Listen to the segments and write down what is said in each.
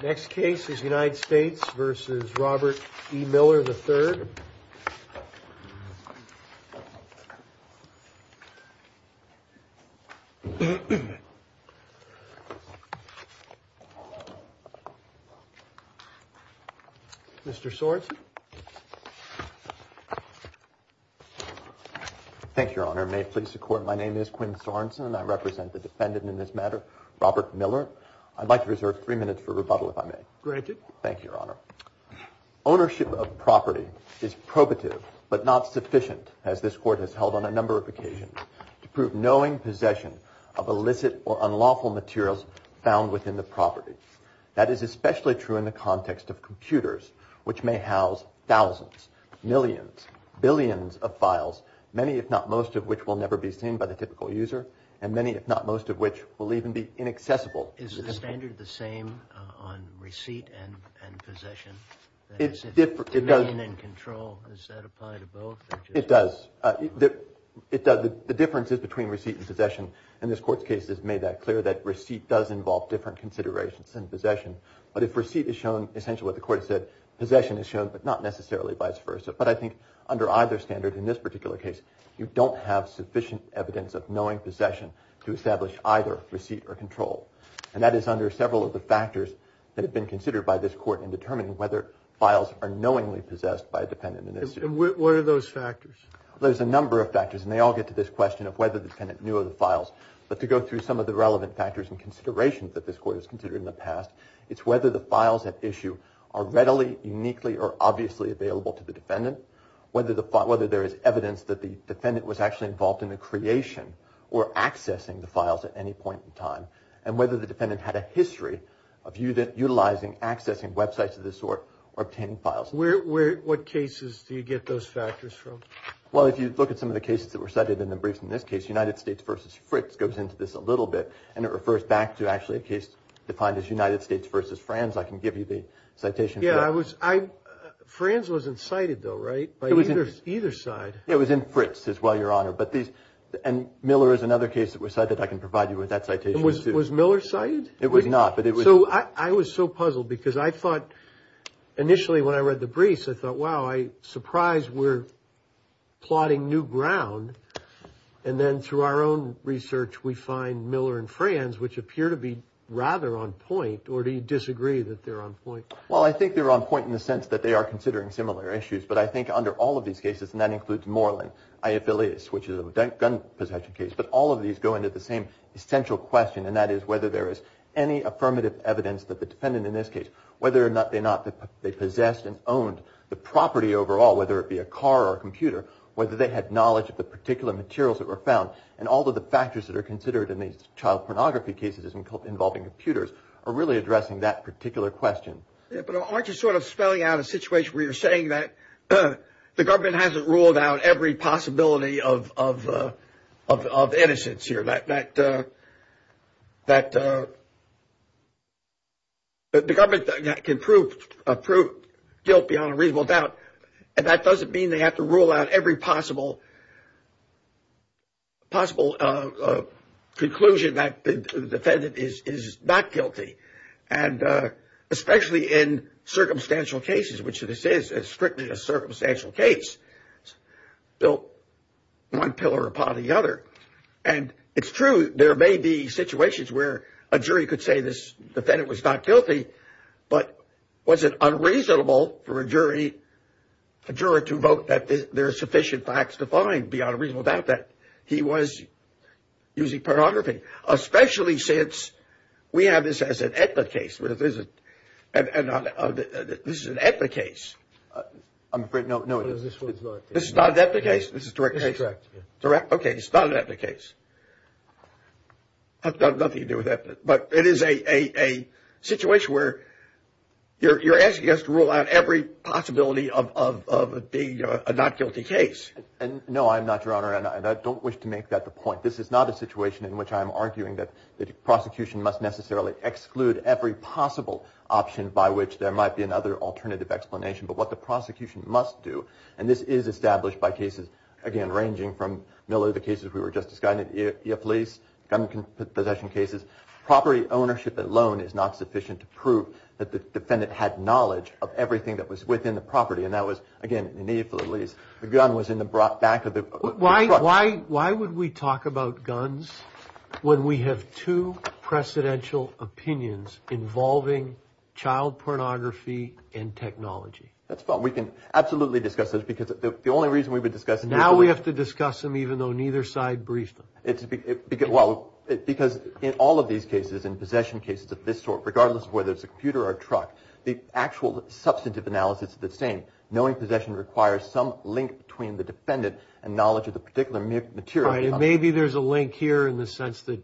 The next case is United States v. Robert E. Miller III. Mr. Sorensen. Thank you, Your Honor. May it please the Court, my name is Quinn Sorensen. I represent the defendant in this matter, Robert Miller. I'd like to reserve three minutes for rebuttal, if I may. Granted. Thank you, Your Honor. Ownership of property is probative but not sufficient, as this Court has held on a number of occasions, to prove knowing possession of illicit or unlawful materials found within the property. That is especially true in the context of computers, which may house thousands, millions, billions of files, many if not most of which will never be seen by the typical user, and many if not most of which will even be inaccessible. Is the standard the same on receipt and possession? If domain and control, does that apply to both? It does. The difference is between receipt and possession, and this Court's case has made that clear, that receipt does involve different considerations than possession. But if receipt is shown, essentially what the Court has said, possession is shown, but not necessarily vice versa. But I think under either standard, in this particular case, you don't have sufficient evidence of knowing possession to establish either receipt or control. And that is under several of the factors that have been considered by this Court in determining whether files are knowingly possessed by a defendant. And what are those factors? There's a number of factors, and they all get to this question of whether the defendant knew of the files. But to go through some of the relevant factors and considerations that this Court has considered in the past, it's whether the files at issue are readily, uniquely, or obviously available to the defendant, whether there is evidence that the defendant was actually involved in the creation or accessing the files at any point in time, and whether the defendant had a history of utilizing, accessing websites of this sort or obtaining files. What cases do you get those factors from? Well, if you look at some of the cases that were cited in the briefs in this case, United States v. Fritz goes into this a little bit, and it refers back to actually a case defined as United States v. Franz. I can give you the citation. Franz wasn't cited, though, right, by either side? It was in Fritz as well, Your Honor. And Miller is another case that was cited. I can provide you with that citation, too. Was Miller cited? It was not, but it was. So I was so puzzled because I thought initially when I read the briefs, I thought, wow, I'm surprised we're plotting new ground. And then through our own research, we find Miller and Franz, which appear to be rather on point. Or do you disagree that they're on point? Well, I think they're on point in the sense that they are considering similar issues. But I think under all of these cases, and that includes Moreland, I. Affiliates, which is a gun possession case, but all of these go into the same essential question, and that is whether there is any affirmative evidence that the defendant in this case, whether or not they possessed and owned the property overall, whether it be a car or a computer, whether they had knowledge of the particular materials that were found. And all of the factors that are considered in these child pornography cases involving computers are really addressing that particular question. But aren't you sort of spelling out a situation where you're saying that the government hasn't ruled out every possibility of innocence here, that the government can prove guilt beyond a reasonable doubt, and that doesn't mean they have to rule out every possible conclusion that the defendant is not guilty, and especially in circumstantial cases, which this is, it's strictly a circumstantial case built one pillar upon the other. And it's true, there may be situations where a jury could say this defendant was not guilty, but was it unreasonable for a jury to vote that there are sufficient facts to find that he was using pornography, especially since we have this as an ethnic case. This is an ethnic case. I'm afraid no. This is not an ethnic case. This is a direct case. Okay, it's not an ethnic case. It has nothing to do with ethnic, but it is a situation where you're asking us to rule out every possibility of it being a not guilty case. No, I'm not, Your Honor, and I don't wish to make that the point. This is not a situation in which I'm arguing that the prosecution must necessarily exclude every possible option by which there might be another alternative explanation, but what the prosecution must do, and this is established by cases, again, ranging from Miller, the cases we were just discussing, police, gun possession cases. Property ownership alone is not sufficient to prove that the defendant had knowledge of everything that was within the property, and that was, again, the gun was in the back of the truck. Why would we talk about guns when we have two precedential opinions involving child pornography and technology? That's fine. We can absolutely discuss those because the only reason we would discuss them Now we have to discuss them even though neither side briefed them. Well, because in all of these cases, in possession cases of this sort, regardless of whether it's a computer or a truck, the actual substantive analysis is the same. Knowing possession requires some link between the defendant and knowledge of the particular material. Right. And maybe there's a link here in the sense that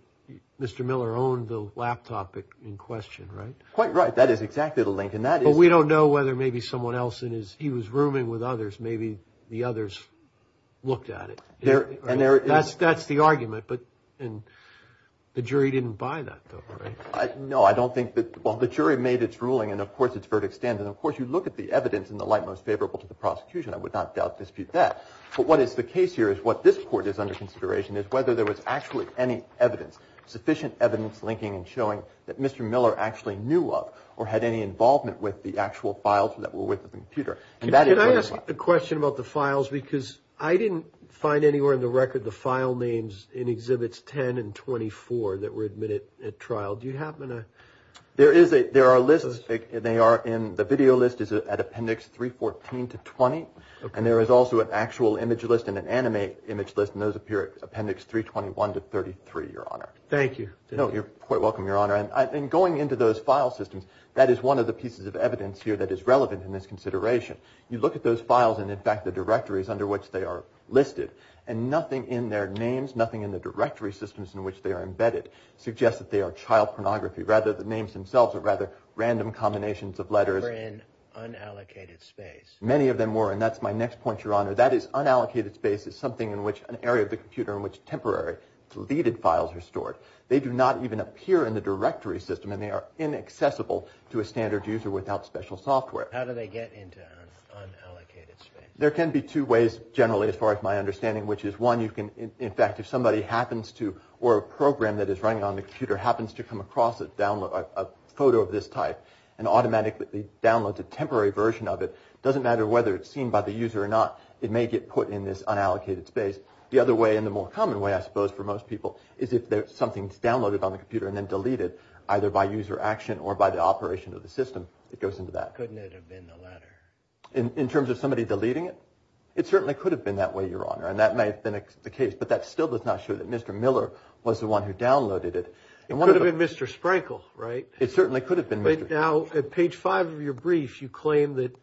Mr. Miller owned the laptop in question, right? Quite right. That is exactly the link, and that is But we don't know whether maybe someone else in his, he was rooming with others. Maybe the others looked at it. That's the argument, but the jury didn't buy that, though, right? No, I don't think that, well, the jury made its ruling, and, of course, it's verdict standard. And, of course, you look at the evidence in the light most favorable to the prosecution. I would not dispute that. But what is the case here is what this court is under consideration is whether there was actually any evidence, sufficient evidence linking and showing, that Mr. Miller actually knew of or had any involvement with the actual files that were with the computer. Can I ask a question about the files? Because I didn't find anywhere in the record the file names in Exhibits 10 and 24 that were admitted at trial. Do you happen to? There is a, there are lists, and they are in, the video list is at Appendix 314 to 20, and there is also an actual image list and an animated image list, and those appear at Appendix 321 to 33, Your Honor. Thank you. No, you're quite welcome, Your Honor. And going into those file systems, that is one of the pieces of evidence here that is relevant in this consideration. You look at those files, and, in fact, the directories under which they are listed, and nothing in their names, nothing in the directory systems in which they are embedded, suggests that they are child pornography. Rather, the names themselves are rather random combinations of letters. They were in unallocated space. Many of them were, and that's my next point, Your Honor. That is, unallocated space is something in which an area of the computer in which temporary deleted files are stored. They do not even appear in the directory system, and they are inaccessible to a standard user without special software. How do they get into unallocated space? There can be two ways, generally, as far as my understanding, which is, one, you can, in fact, if somebody happens to, or a program that is running on the computer happens to come across a download, a photo of this type and automatically downloads a temporary version of it, it doesn't matter whether it's seen by the user or not. It may get put in this unallocated space. The other way, and the more common way, I suppose, for most people, is if something is downloaded on the computer and then deleted, either by user action or by the operation of the system, it goes into that. Couldn't it have been the latter? In terms of somebody deleting it, it certainly could have been that way, Your Honor, and that may have been the case, but that still does not show that Mr. Miller was the one who downloaded it. It could have been Mr. Sprankle, right? It certainly could have been Mr. Sprankle. Now, at page 5 of your brief, you claim that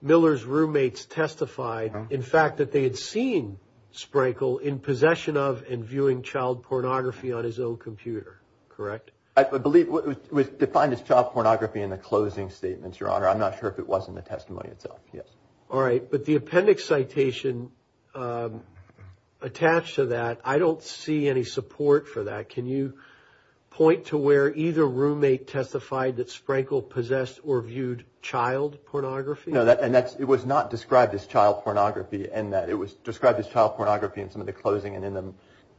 Miller's roommates testified, in fact, that they had seen Sprankle in possession of and viewing child pornography on his own computer, correct? I believe it was defined as child pornography in the closing statements, Your Honor. I'm not sure if it was in the testimony itself, yes. All right, but the appendix citation attached to that, I don't see any support for that. Can you point to where either roommate testified that Sprankle possessed or viewed child pornography? No, and it was not described as child pornography in that. It was described as child pornography in some of the closing and in the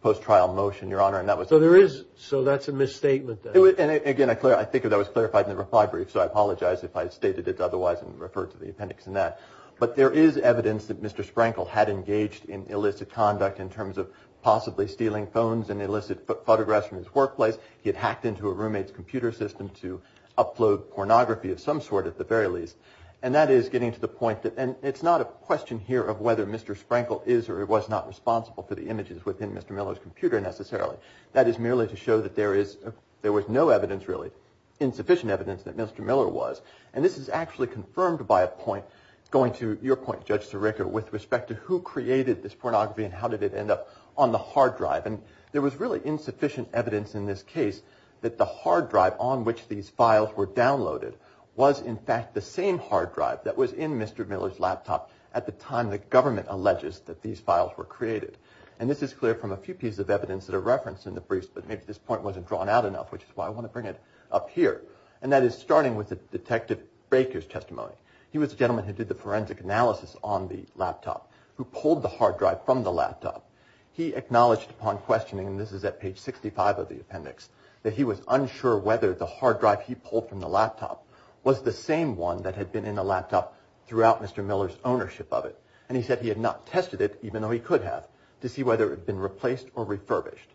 post-trial motion, Your Honor. So that's a misstatement, then. And, again, I think that was clarified in the reply brief, so I apologize if I stated it otherwise and referred to the appendix in that. But there is evidence that Mr. Sprankle had engaged in illicit conduct in terms of possibly stealing phones and illicit photographs from his workplace. He had hacked into a roommate's computer system to upload pornography of some sort, at the very least. And that is getting to the point that, and it's not a question here of whether Mr. Sprankle is or was not responsible for the images within Mr. Miller's computer, necessarily. That is merely to show that there was no evidence, really, insufficient evidence, that Mr. Miller was. And this is actually confirmed by a point, going to your point, Judge Sirica, with respect to who created this pornography and how did it end up on the hard drive. And there was really insufficient evidence in this case that the hard drive on which these files were downloaded was, in fact, the same hard drive that was in Mr. Miller's laptop at the time the government alleges that these files were created. And this is clear from a few pieces of evidence that are referenced in the briefs, but maybe this point wasn't drawn out enough, which is why I want to bring it up here. And that is starting with Detective Baker's testimony. He was a gentleman who did the forensic analysis on the laptop, who pulled the hard drive from the laptop. He acknowledged upon questioning, and this is at page 65 of the appendix, that he was unsure whether the hard drive he pulled from the laptop was the same one that had been in the laptop throughout Mr. Miller's ownership of it. And he said he had not tested it, even though he could have, to see whether it had been replaced or refurbished.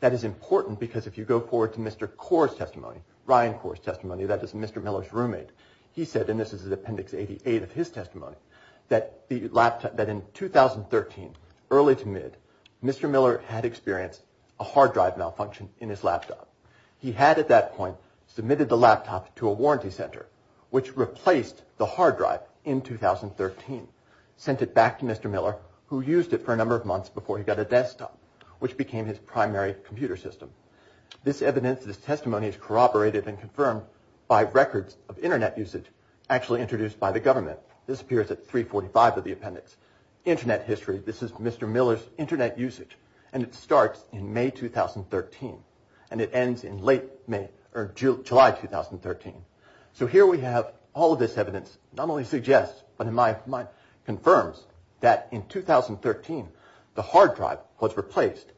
That is important because if you go forward to Mr. Kaur's testimony, Ryan Kaur's testimony, that is Mr. Miller's roommate, he said, and this is appendix 88 of his testimony, that in 2013, early to mid, Mr. Miller had experienced a hard drive malfunction in his laptop. He had at that point submitted the laptop to a warranty center, which replaced the hard drive in 2013. Sent it back to Mr. Miller, who used it for a number of months before he got a desktop, which became his primary computer system. This evidence, this testimony is corroborated and confirmed by records of Internet usage actually introduced by the government. This appears at 345 of the appendix. Internet history, this is Mr. Miller's Internet usage, and it starts in May 2013. And it ends in late May, or July 2013. So here we have all of this evidence, not only suggests, but in my mind, confirms that in 2013, the hard drive was replaced.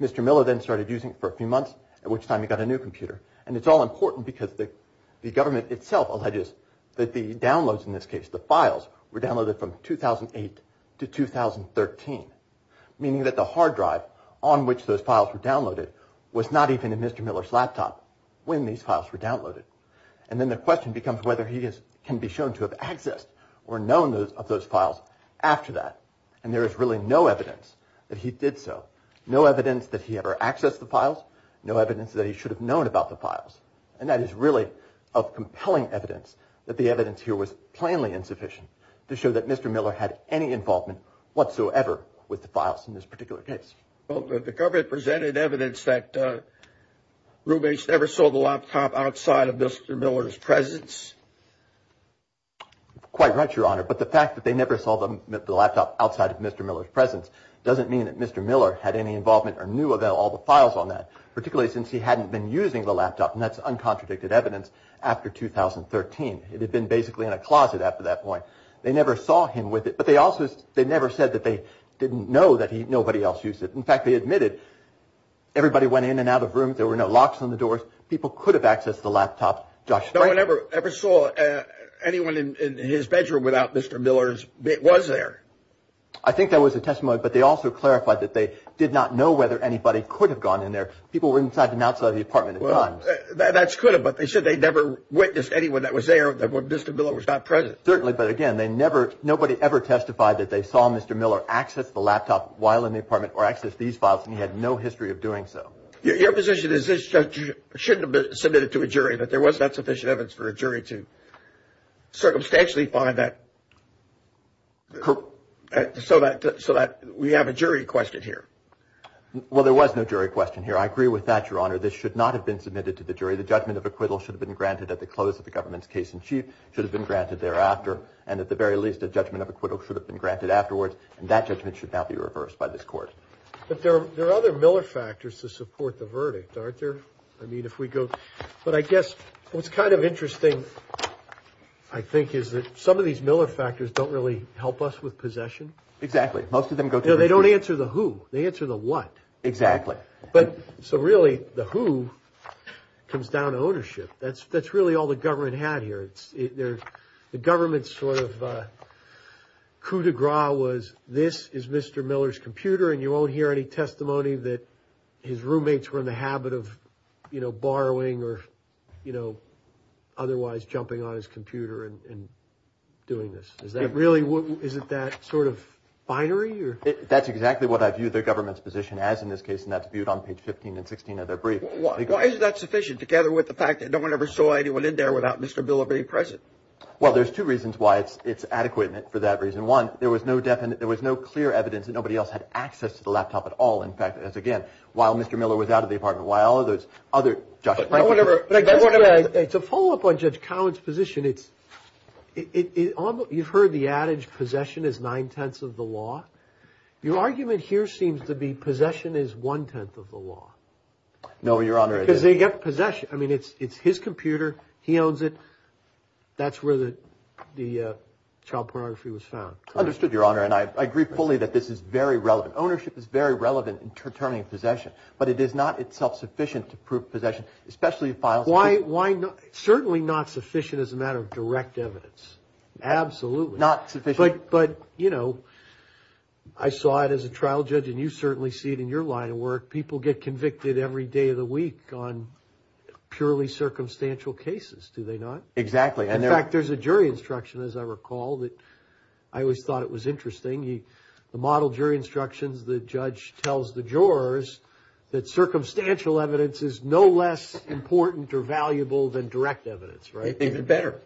Mr. Miller then started using it for a few months, at which time he got a new computer. And it's all important because the government itself alleges that the downloads in this case, the files, were downloaded from 2008 to 2013, meaning that the hard drive on which those files were downloaded was not even in Mr. Miller's laptop when these files were downloaded. And then the question becomes whether he can be shown to have accessed or known of those files after that. And there is really no evidence that he did so. No evidence that he ever accessed the files. No evidence that he should have known about the files. And that is really of compelling evidence that the evidence here was plainly insufficient to show that Mr. Miller had any involvement whatsoever with the files in this particular case. Well, the government presented evidence that roommates never saw the laptop outside of Mr. Miller's presence. Quite right, Your Honor. But the fact that they never saw the laptop outside of Mr. Miller's presence doesn't mean that Mr. Miller had any involvement or knew of all the files on that, particularly since he hadn't been using the laptop. And that's uncontradicted evidence after 2013. It had been basically in a closet after that point. They never saw him with it. But they never said that they didn't know that nobody else used it. In fact, they admitted everybody went in and out of rooms. There were no locks on the doors. People could have accessed the laptop. No one ever saw anyone in his bedroom without Mr. Miller's was there. I think that was a testimony. But they also clarified that they did not know whether anybody could have gone in there. People were inside and outside of the apartment at times. That's could have. But they said they never witnessed anyone that was there when Mr. Miller was not present. Certainly. But again, they never nobody ever testified that they saw Mr. Miller access the laptop while in the apartment or access these files. And he had no history of doing so. Your position is this shouldn't have been submitted to a jury, but there was not sufficient evidence for a jury to circumstantially find that. So that so that we have a jury question here. Well, there was no jury question here. I agree with that, Your Honor. This should not have been submitted to the jury. The judgment of acquittal should have been granted at the close of the government's case in chief. Should have been granted thereafter. And at the very least, a judgment of acquittal should have been granted afterwards. And that judgment should not be reversed by this court. But there are other Miller factors to support the verdict, aren't there? I mean, if we go. But I guess what's kind of interesting, I think, is that some of these Miller factors don't really help us with possession. Exactly. Most of them go. They don't answer the who. They answer the what. Exactly. But so really, the who comes down to ownership. That's that's really all the government had here. It's there. The government's sort of coup de gras was this is Mr. Miller's computer. And you won't hear any testimony that his roommates were in the habit of, you know, borrowing or, you know, otherwise jumping on his computer and doing this. Is that really what is it that sort of binary? That's exactly what I view the government's position as in this case. And that's viewed on page 15 and 16 of their brief. Why is that sufficient? Well, there's two reasons why it's it's adequate for that reason. One, there was no definite there was no clear evidence that nobody else had access to the laptop at all. In fact, as again, while Mr. Miller was out of the apartment, while others other. But I guess it's a follow up on Judge Cowen's position. It's it. You've heard the adage possession is nine tenths of the law. Your argument here seems to be possession is one tenth of the law. No, Your Honor. Because they get possession. I mean, it's it's his computer. He owns it. That's where the the child pornography was found. Understood, Your Honor. And I agree fully that this is very relevant. Ownership is very relevant in determining possession. But it is not itself sufficient to prove possession, especially files. Why? Why not? Certainly not sufficient as a matter of direct evidence. Absolutely not sufficient. But but, you know, I saw it as a trial judge. And you certainly see it in your line of work. People get convicted every day of the week on purely circumstantial cases, do they not? Exactly. And in fact, there's a jury instruction, as I recall, that I always thought it was interesting. The model jury instructions, the judge tells the jurors that circumstantial evidence is no less important or valuable than direct evidence. Right. Even better.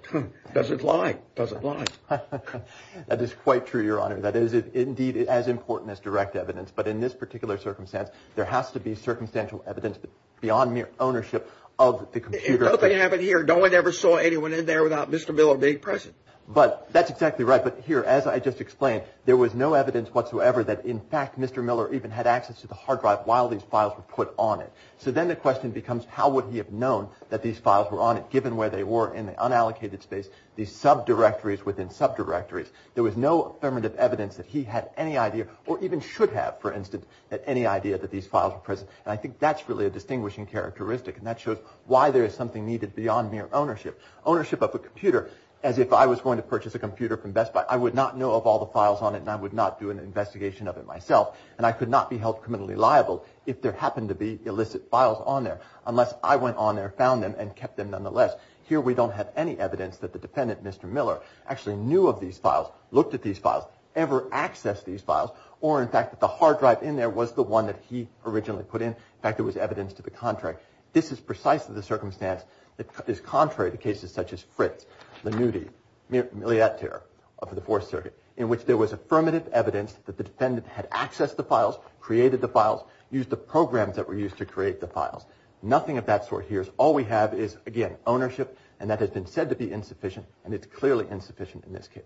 Doesn't lie. Doesn't lie. That is quite true, Your Honor. That is indeed as important as direct evidence. But in this particular circumstance, there has to be circumstantial evidence beyond mere ownership of the computer. If nothing happened here, no one ever saw anyone in there without Mr. Miller being present. But that's exactly right. But here, as I just explained, there was no evidence whatsoever that, in fact, Mr. Miller even had access to the hard drive while these files were put on it. So then the question becomes, how would he have known that these files were on it, given where they were in the unallocated space, these subdirectories within subdirectories? There was no affirmative evidence that he had any idea or even should have, for instance, had any idea that these files were present. And I think that's really a distinguishing characteristic, and that shows why there is something needed beyond mere ownership. Ownership of a computer, as if I was going to purchase a computer from Best Buy, I would not know of all the files on it, and I would not do an investigation of it myself. And I could not be held criminally liable if there happened to be illicit files on there, unless I went on there, found them, and kept them nonetheless. Here, we don't have any evidence that the defendant, Mr. Miller, actually knew of these files, looked at these files, ever accessed these files, or, in fact, that the hard drive in there was the one that he originally put in. In fact, it was evidence to the contrary. This is precisely the circumstance that is contrary to cases such as Fritz, Lanuti, Miliotter of the Fourth Circuit, in which there was affirmative evidence that the defendant had accessed the files, created the files, used the programs that were used to create the files. Nothing of that sort here. All we have is, again, ownership, and that has been said to be insufficient, and it's clearly insufficient in this case.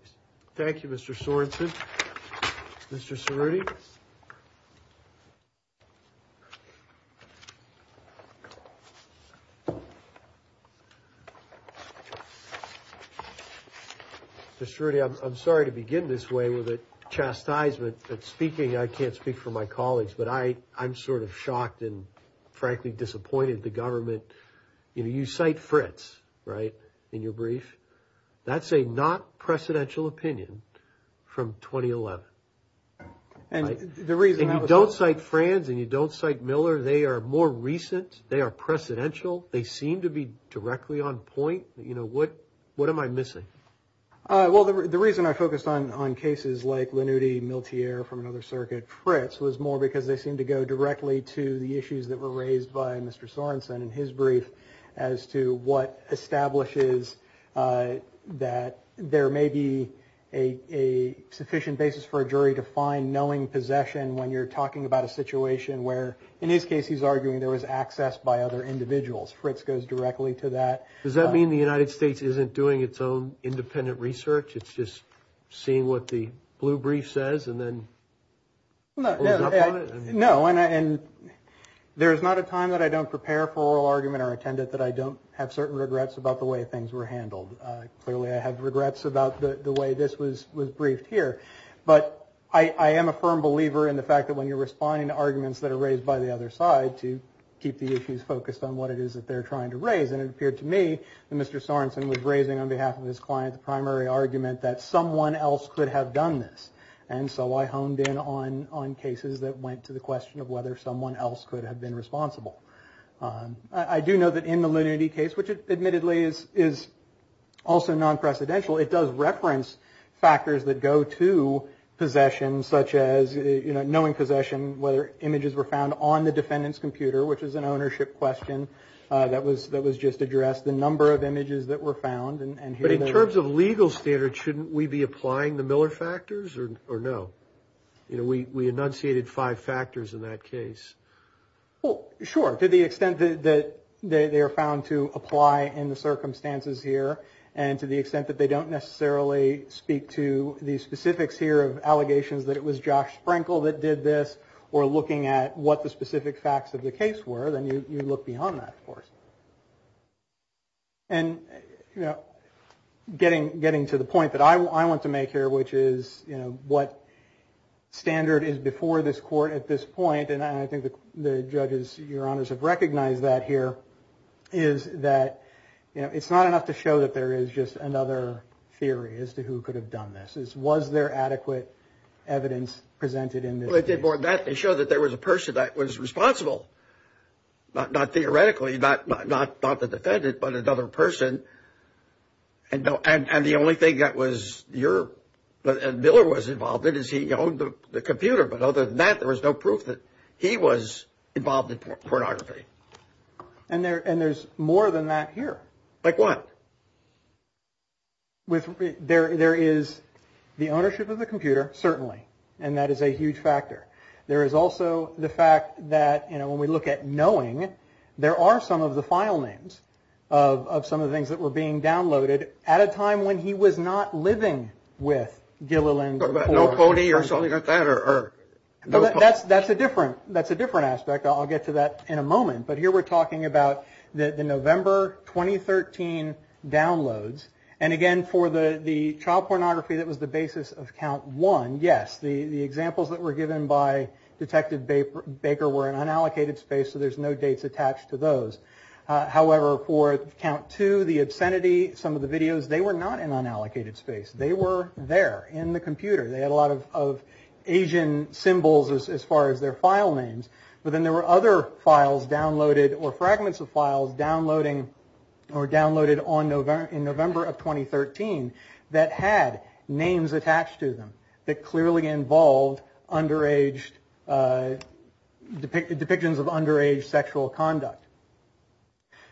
Thank you, Mr. Sorensen. Mr. Cerruti. Mr. Cerruti, I'm sorry to begin this way with a chastisement at speaking. I mean, I can't speak for my colleagues, but I'm sort of shocked and, frankly, disappointed the government. You know, you cite Fritz, right, in your brief. That's a not-precedential opinion from 2011. And the reason I was... And you don't cite Franz, and you don't cite Miller. They are more recent. They are precedential. They seem to be directly on point. You know, what am I missing? Well, the reason I focused on cases like Lanuti, Miltier from another circuit, Fritz, was more because they seemed to go directly to the issues that were raised by Mr. Sorensen in his brief as to what establishes that there may be a sufficient basis for a jury to find knowing possession when you're talking about a situation where, in his case, he's arguing there was access by other individuals. Fritz goes directly to that. Does that mean the United States isn't doing its own independent research? It's just seeing what the blue brief says and then... No, and there is not a time that I don't prepare for oral argument or attend it that I don't have certain regrets about the way things were handled. Clearly, I have regrets about the way this was briefed here. But I am a firm believer in the fact that when you're responding to arguments that are raised by the other side to keep the issues focused on what it is that they're trying to raise, and it appeared to me that Mr. Sorensen was raising on behalf of his client the primary argument that someone else could have done this. And so I honed in on cases that went to the question of whether someone else could have been responsible. I do know that in the Lanuti case, which admittedly is also non-precedential, it does reference factors that go to possession, such as knowing possession, whether images were found on the defendant's computer, which is an ownership question that was just addressed, the number of images that were found. But in terms of legal standards, shouldn't we be applying the Miller factors or no? We enunciated five factors in that case. Well, sure, to the extent that they are found to apply in the circumstances here, and to the extent that they don't necessarily speak to the specifics here of allegations that it was Josh Sprinkle that did this or looking at what the specific facts of the case were, then you look beyond that, of course. And, you know, getting getting to the point that I want to make here, which is, you know, what standard is before this court at this point, and I think the judges, your honors have recognized that here, is that, you know, it's not enough to show that there is just another theory as to who could have done this. Is was there adequate evidence presented in this case? Well, it did more than that. They showed that there was a person that was responsible, not theoretically, not the defendant, but another person. And the only thing that was your and Miller was involved in is he owned the computer. But other than that, there was no proof that he was involved in pornography. And there and there's more than that here. Like what? With there, there is the ownership of the computer, certainly. And that is a huge factor. There is also the fact that, you know, when we look at knowing, there are some of the file names of some of the things that were being downloaded at a time when he was not living with Gilliland. No pony or something like that? That's a different aspect. I'll get to that in a moment. But here we're talking about the November 2013 downloads. And again, for the child pornography, that was the basis of count one. Yes, the examples that were given by Detective Baker were in unallocated space, so there's no dates attached to those. However, for count two, the obscenity, some of the videos, they were not in unallocated space. They were there in the computer. They had a lot of Asian symbols as far as their file names. But then there were other files downloaded or fragments of files downloading or downloaded in November of 2013 that had names attached to them that clearly involved depictions of underage sexual conduct.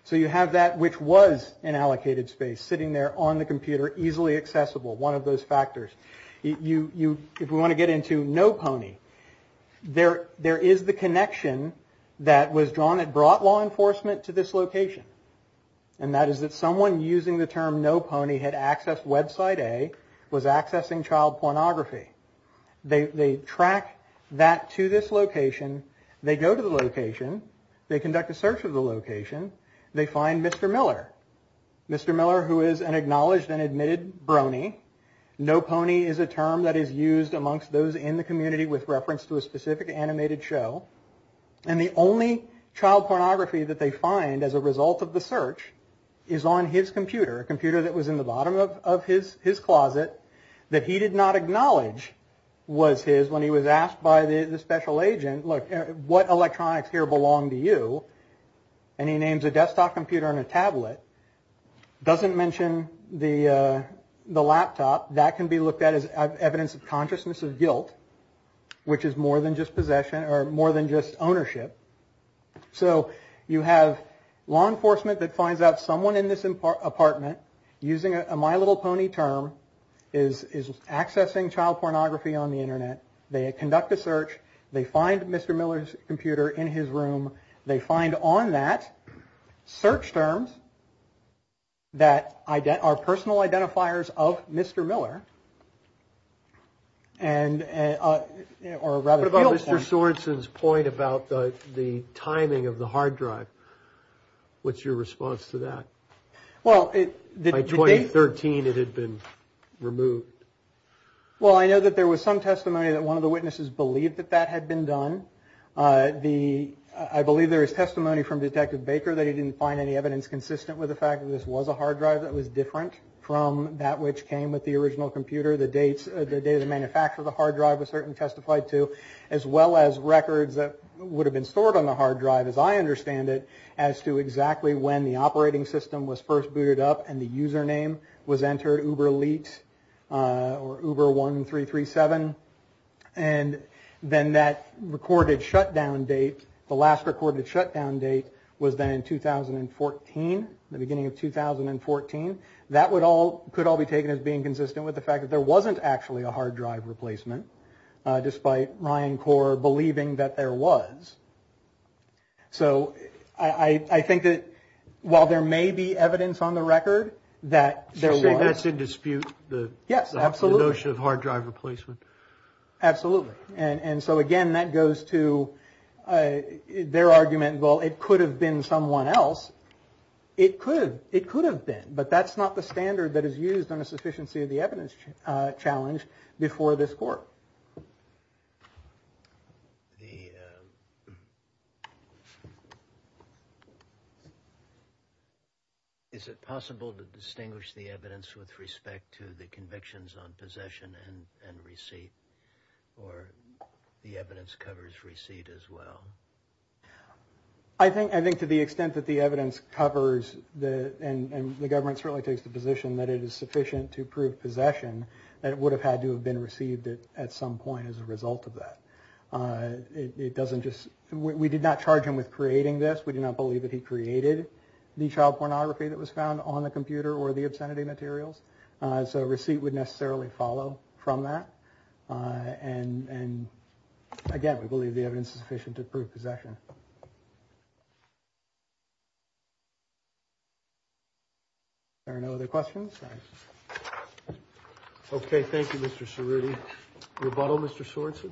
So you have that which was in allocated space sitting there on the computer, easily accessible. One of those factors. If we want to get into no pony, there is the connection that was drawn and brought law enforcement to this location. And that is that someone using the term no pony had accessed website A, was accessing child pornography. They track that to this location. They go to the location. They conduct a search of the location. They find Mr. Miller. Mr. Miller, who is an acknowledged and admitted brony. No pony is a term that is used amongst those in the community with reference to a specific animated show. And the only child pornography that they find as a result of the search is on his computer, a computer that was in the bottom of his closet that he did not acknowledge was his when he was asked by the special agent, look, what electronics here belong to you? And he names a desktop computer and a tablet. Doesn't mention the laptop that can be looked at as evidence of consciousness of guilt, which is more than just possession or more than just ownership. So you have law enforcement that finds out someone in this apartment using a my little pony term is accessing child pornography on the Internet. They conduct a search. They find Mr. Miller's computer in his room. They find on that search terms. That I get our personal identifiers of Mr. Miller. And or rather about Mr. Sorenson's point about the timing of the hard drive, what's your response to that? Well, the 2013, it had been removed. Well, I know that there was some testimony that one of the witnesses believed that that had been done. The I believe there is testimony from Detective Baker that he didn't find any evidence consistent with the fact that this was a hard drive that was different from that which came with the original computer. The dates, the day of the manufacture of the hard drive, a certain testified to, as well as records that would have been stored on the hard drive, as I understand it, as to exactly when the operating system was first booted up and the user name was entered Uber Elite or Uber 1337. And then that recorded shutdown date, the last recorded shutdown date was then in 2014, the beginning of 2014. That would all could all be taken as being consistent with the fact that there wasn't actually a hard drive replacement, despite Ryan Corr believing that there was. So I think that while there may be evidence on the record that there was. So you're saying that's in dispute? Yes, absolutely. The notion of hard drive replacement? Absolutely. And so, again, that goes to their argument, well, it could have been someone else. It could have been, but that's not the standard that is used on a sufficiency of the evidence challenge before this court. Is it possible to distinguish the evidence with respect to the convictions on possession and receipt? Or the evidence covers receipt as well? I think to the extent that the evidence covers and the government certainly takes the position that it is sufficient to prove possession, that it would have had to have been received at some point as a result of that. It doesn't just we did not charge him with creating this. We do not believe that he created the child pornography that was found on the computer or the obscenity materials. So receipt would necessarily follow from that. And again, we believe the evidence is sufficient to prove possession. There are no other questions. Okay. Thank you, Mr. Cerruti. Rebuttal, Mr. Swanson.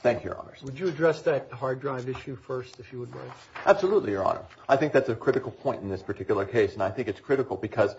Thank you, Your Honor. Would you address that hard drive issue first, if you would like? Absolutely, Your Honor. I think that's a critical point in this particular case. And I think it's critical because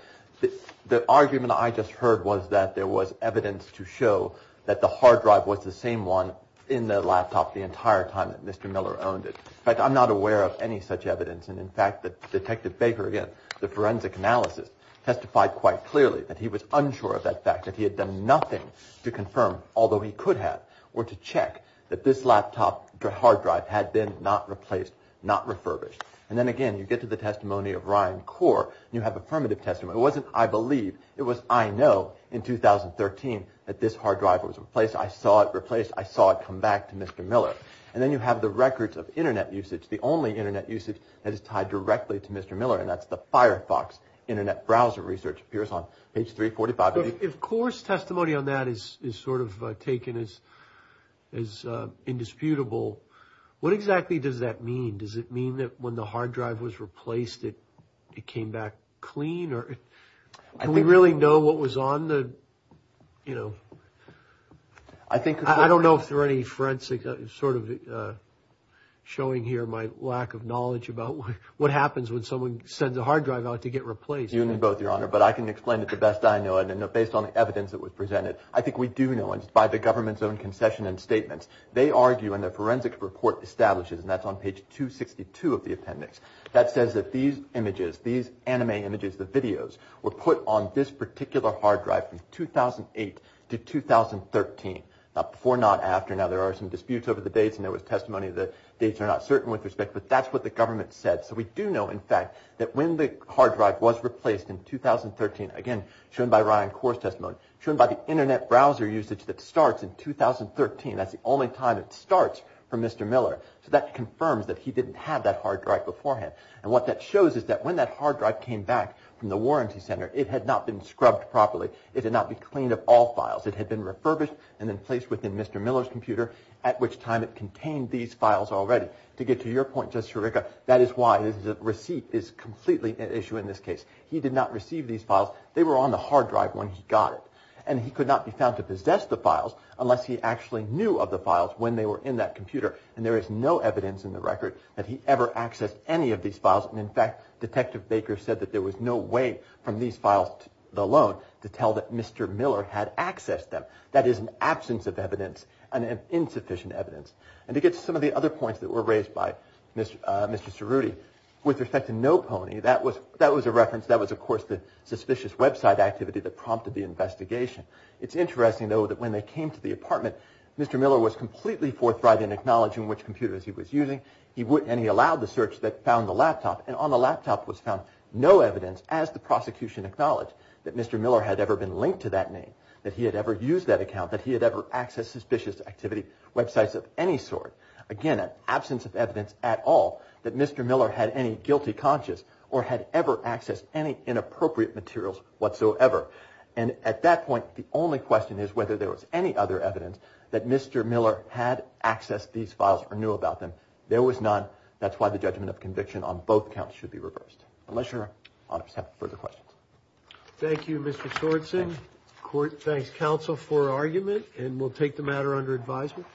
the argument I just heard was that there was evidence to show that the hard drive was the same one in the laptop the entire time that Mr. Miller owned it. In fact, I'm not aware of any such evidence. And in fact, Detective Baker, again, the forensic analysis testified quite clearly that he was unsure of that fact, that he had done nothing to confirm, although he could have, or to check that this laptop hard drive had been not replaced, not refurbished. And then, again, you get to the testimony of Ryan Kaur, and you have affirmative testimony. It wasn't, I believe. It was, I know, in 2013 that this hard drive was replaced. I saw it replaced. I saw it come back to Mr. Miller. And then you have the records of Internet usage, the only Internet usage that is tied directly to Mr. Miller, and that's the Firefox Internet browser research appears on page 345. If Kaur's testimony on that is sort of taken as indisputable, what exactly does that mean? Does it mean that when the hard drive was replaced, it came back clean? Do we really know what was on the, you know, I don't know if there are any forensic sort of showing here my lack of knowledge about what happens when someone sends a hard drive out to get replaced. You and me both, Your Honor. But I can explain it the best I know, and based on the evidence that was presented, I think we do know, and it's by the government's own concession and statements. They argue in the forensic report establishes, and that's on page 262 of the appendix, that says that these images, these anime images, the videos, were put on this particular hard drive from 2008 to 2013. Now, before, not after. Now, there are some disputes over the dates, and there was testimony that dates are not certain with respect, but that's what the government said. So we do know, in fact, that when the hard drive was replaced in 2013, again, shown by Ryan Kaur's testimony, shown by the Internet browser usage that starts in 2013. That's the only time it starts for Mr. Miller. So that confirms that he didn't have that hard drive beforehand, and what that shows is that when that hard drive came back from the warranty center, it had not been scrubbed properly. It did not be cleaned of all files. It had been refurbished and then placed within Mr. Miller's computer, at which time it contained these files already. To get to your point, Justice Eureka, that is why the receipt is completely at issue in this case. He did not receive these files. They were on the hard drive when he got it, and he could not be found to possess the files unless he actually knew of the files when they were in that computer, and there is no evidence in the record that he ever accessed any of these files. And, in fact, Detective Baker said that there was no way from these files alone to tell that Mr. Miller had accessed them. That is an absence of evidence, an insufficient evidence. And to get to some of the other points that were raised by Mr. Cerruti, with respect to No Pony, that was a reference. That was, of course, the suspicious website activity that prompted the investigation. It is interesting, though, that when they came to the apartment, Mr. Miller was completely forthright in acknowledging which computers he was using, and he allowed the search that found the laptop, and on the laptop was found no evidence, as the prosecution acknowledged, that Mr. Miller had ever been linked to that name, that he had ever used that account, that he had ever accessed suspicious activity, websites of any sort. Again, an absence of evidence at all that Mr. Miller had any guilty conscience or had ever accessed any inappropriate materials whatsoever. And at that point, the only question is whether there was any other evidence that Mr. Miller had accessed these files or knew about them. There was none. That's why the judgment of conviction on both counts should be reversed. Unless Your Honor has further questions. Thank you, Mr. Schwartz. Thanks, counsel, for argument, and we'll take the matter under advisement. Rear, please.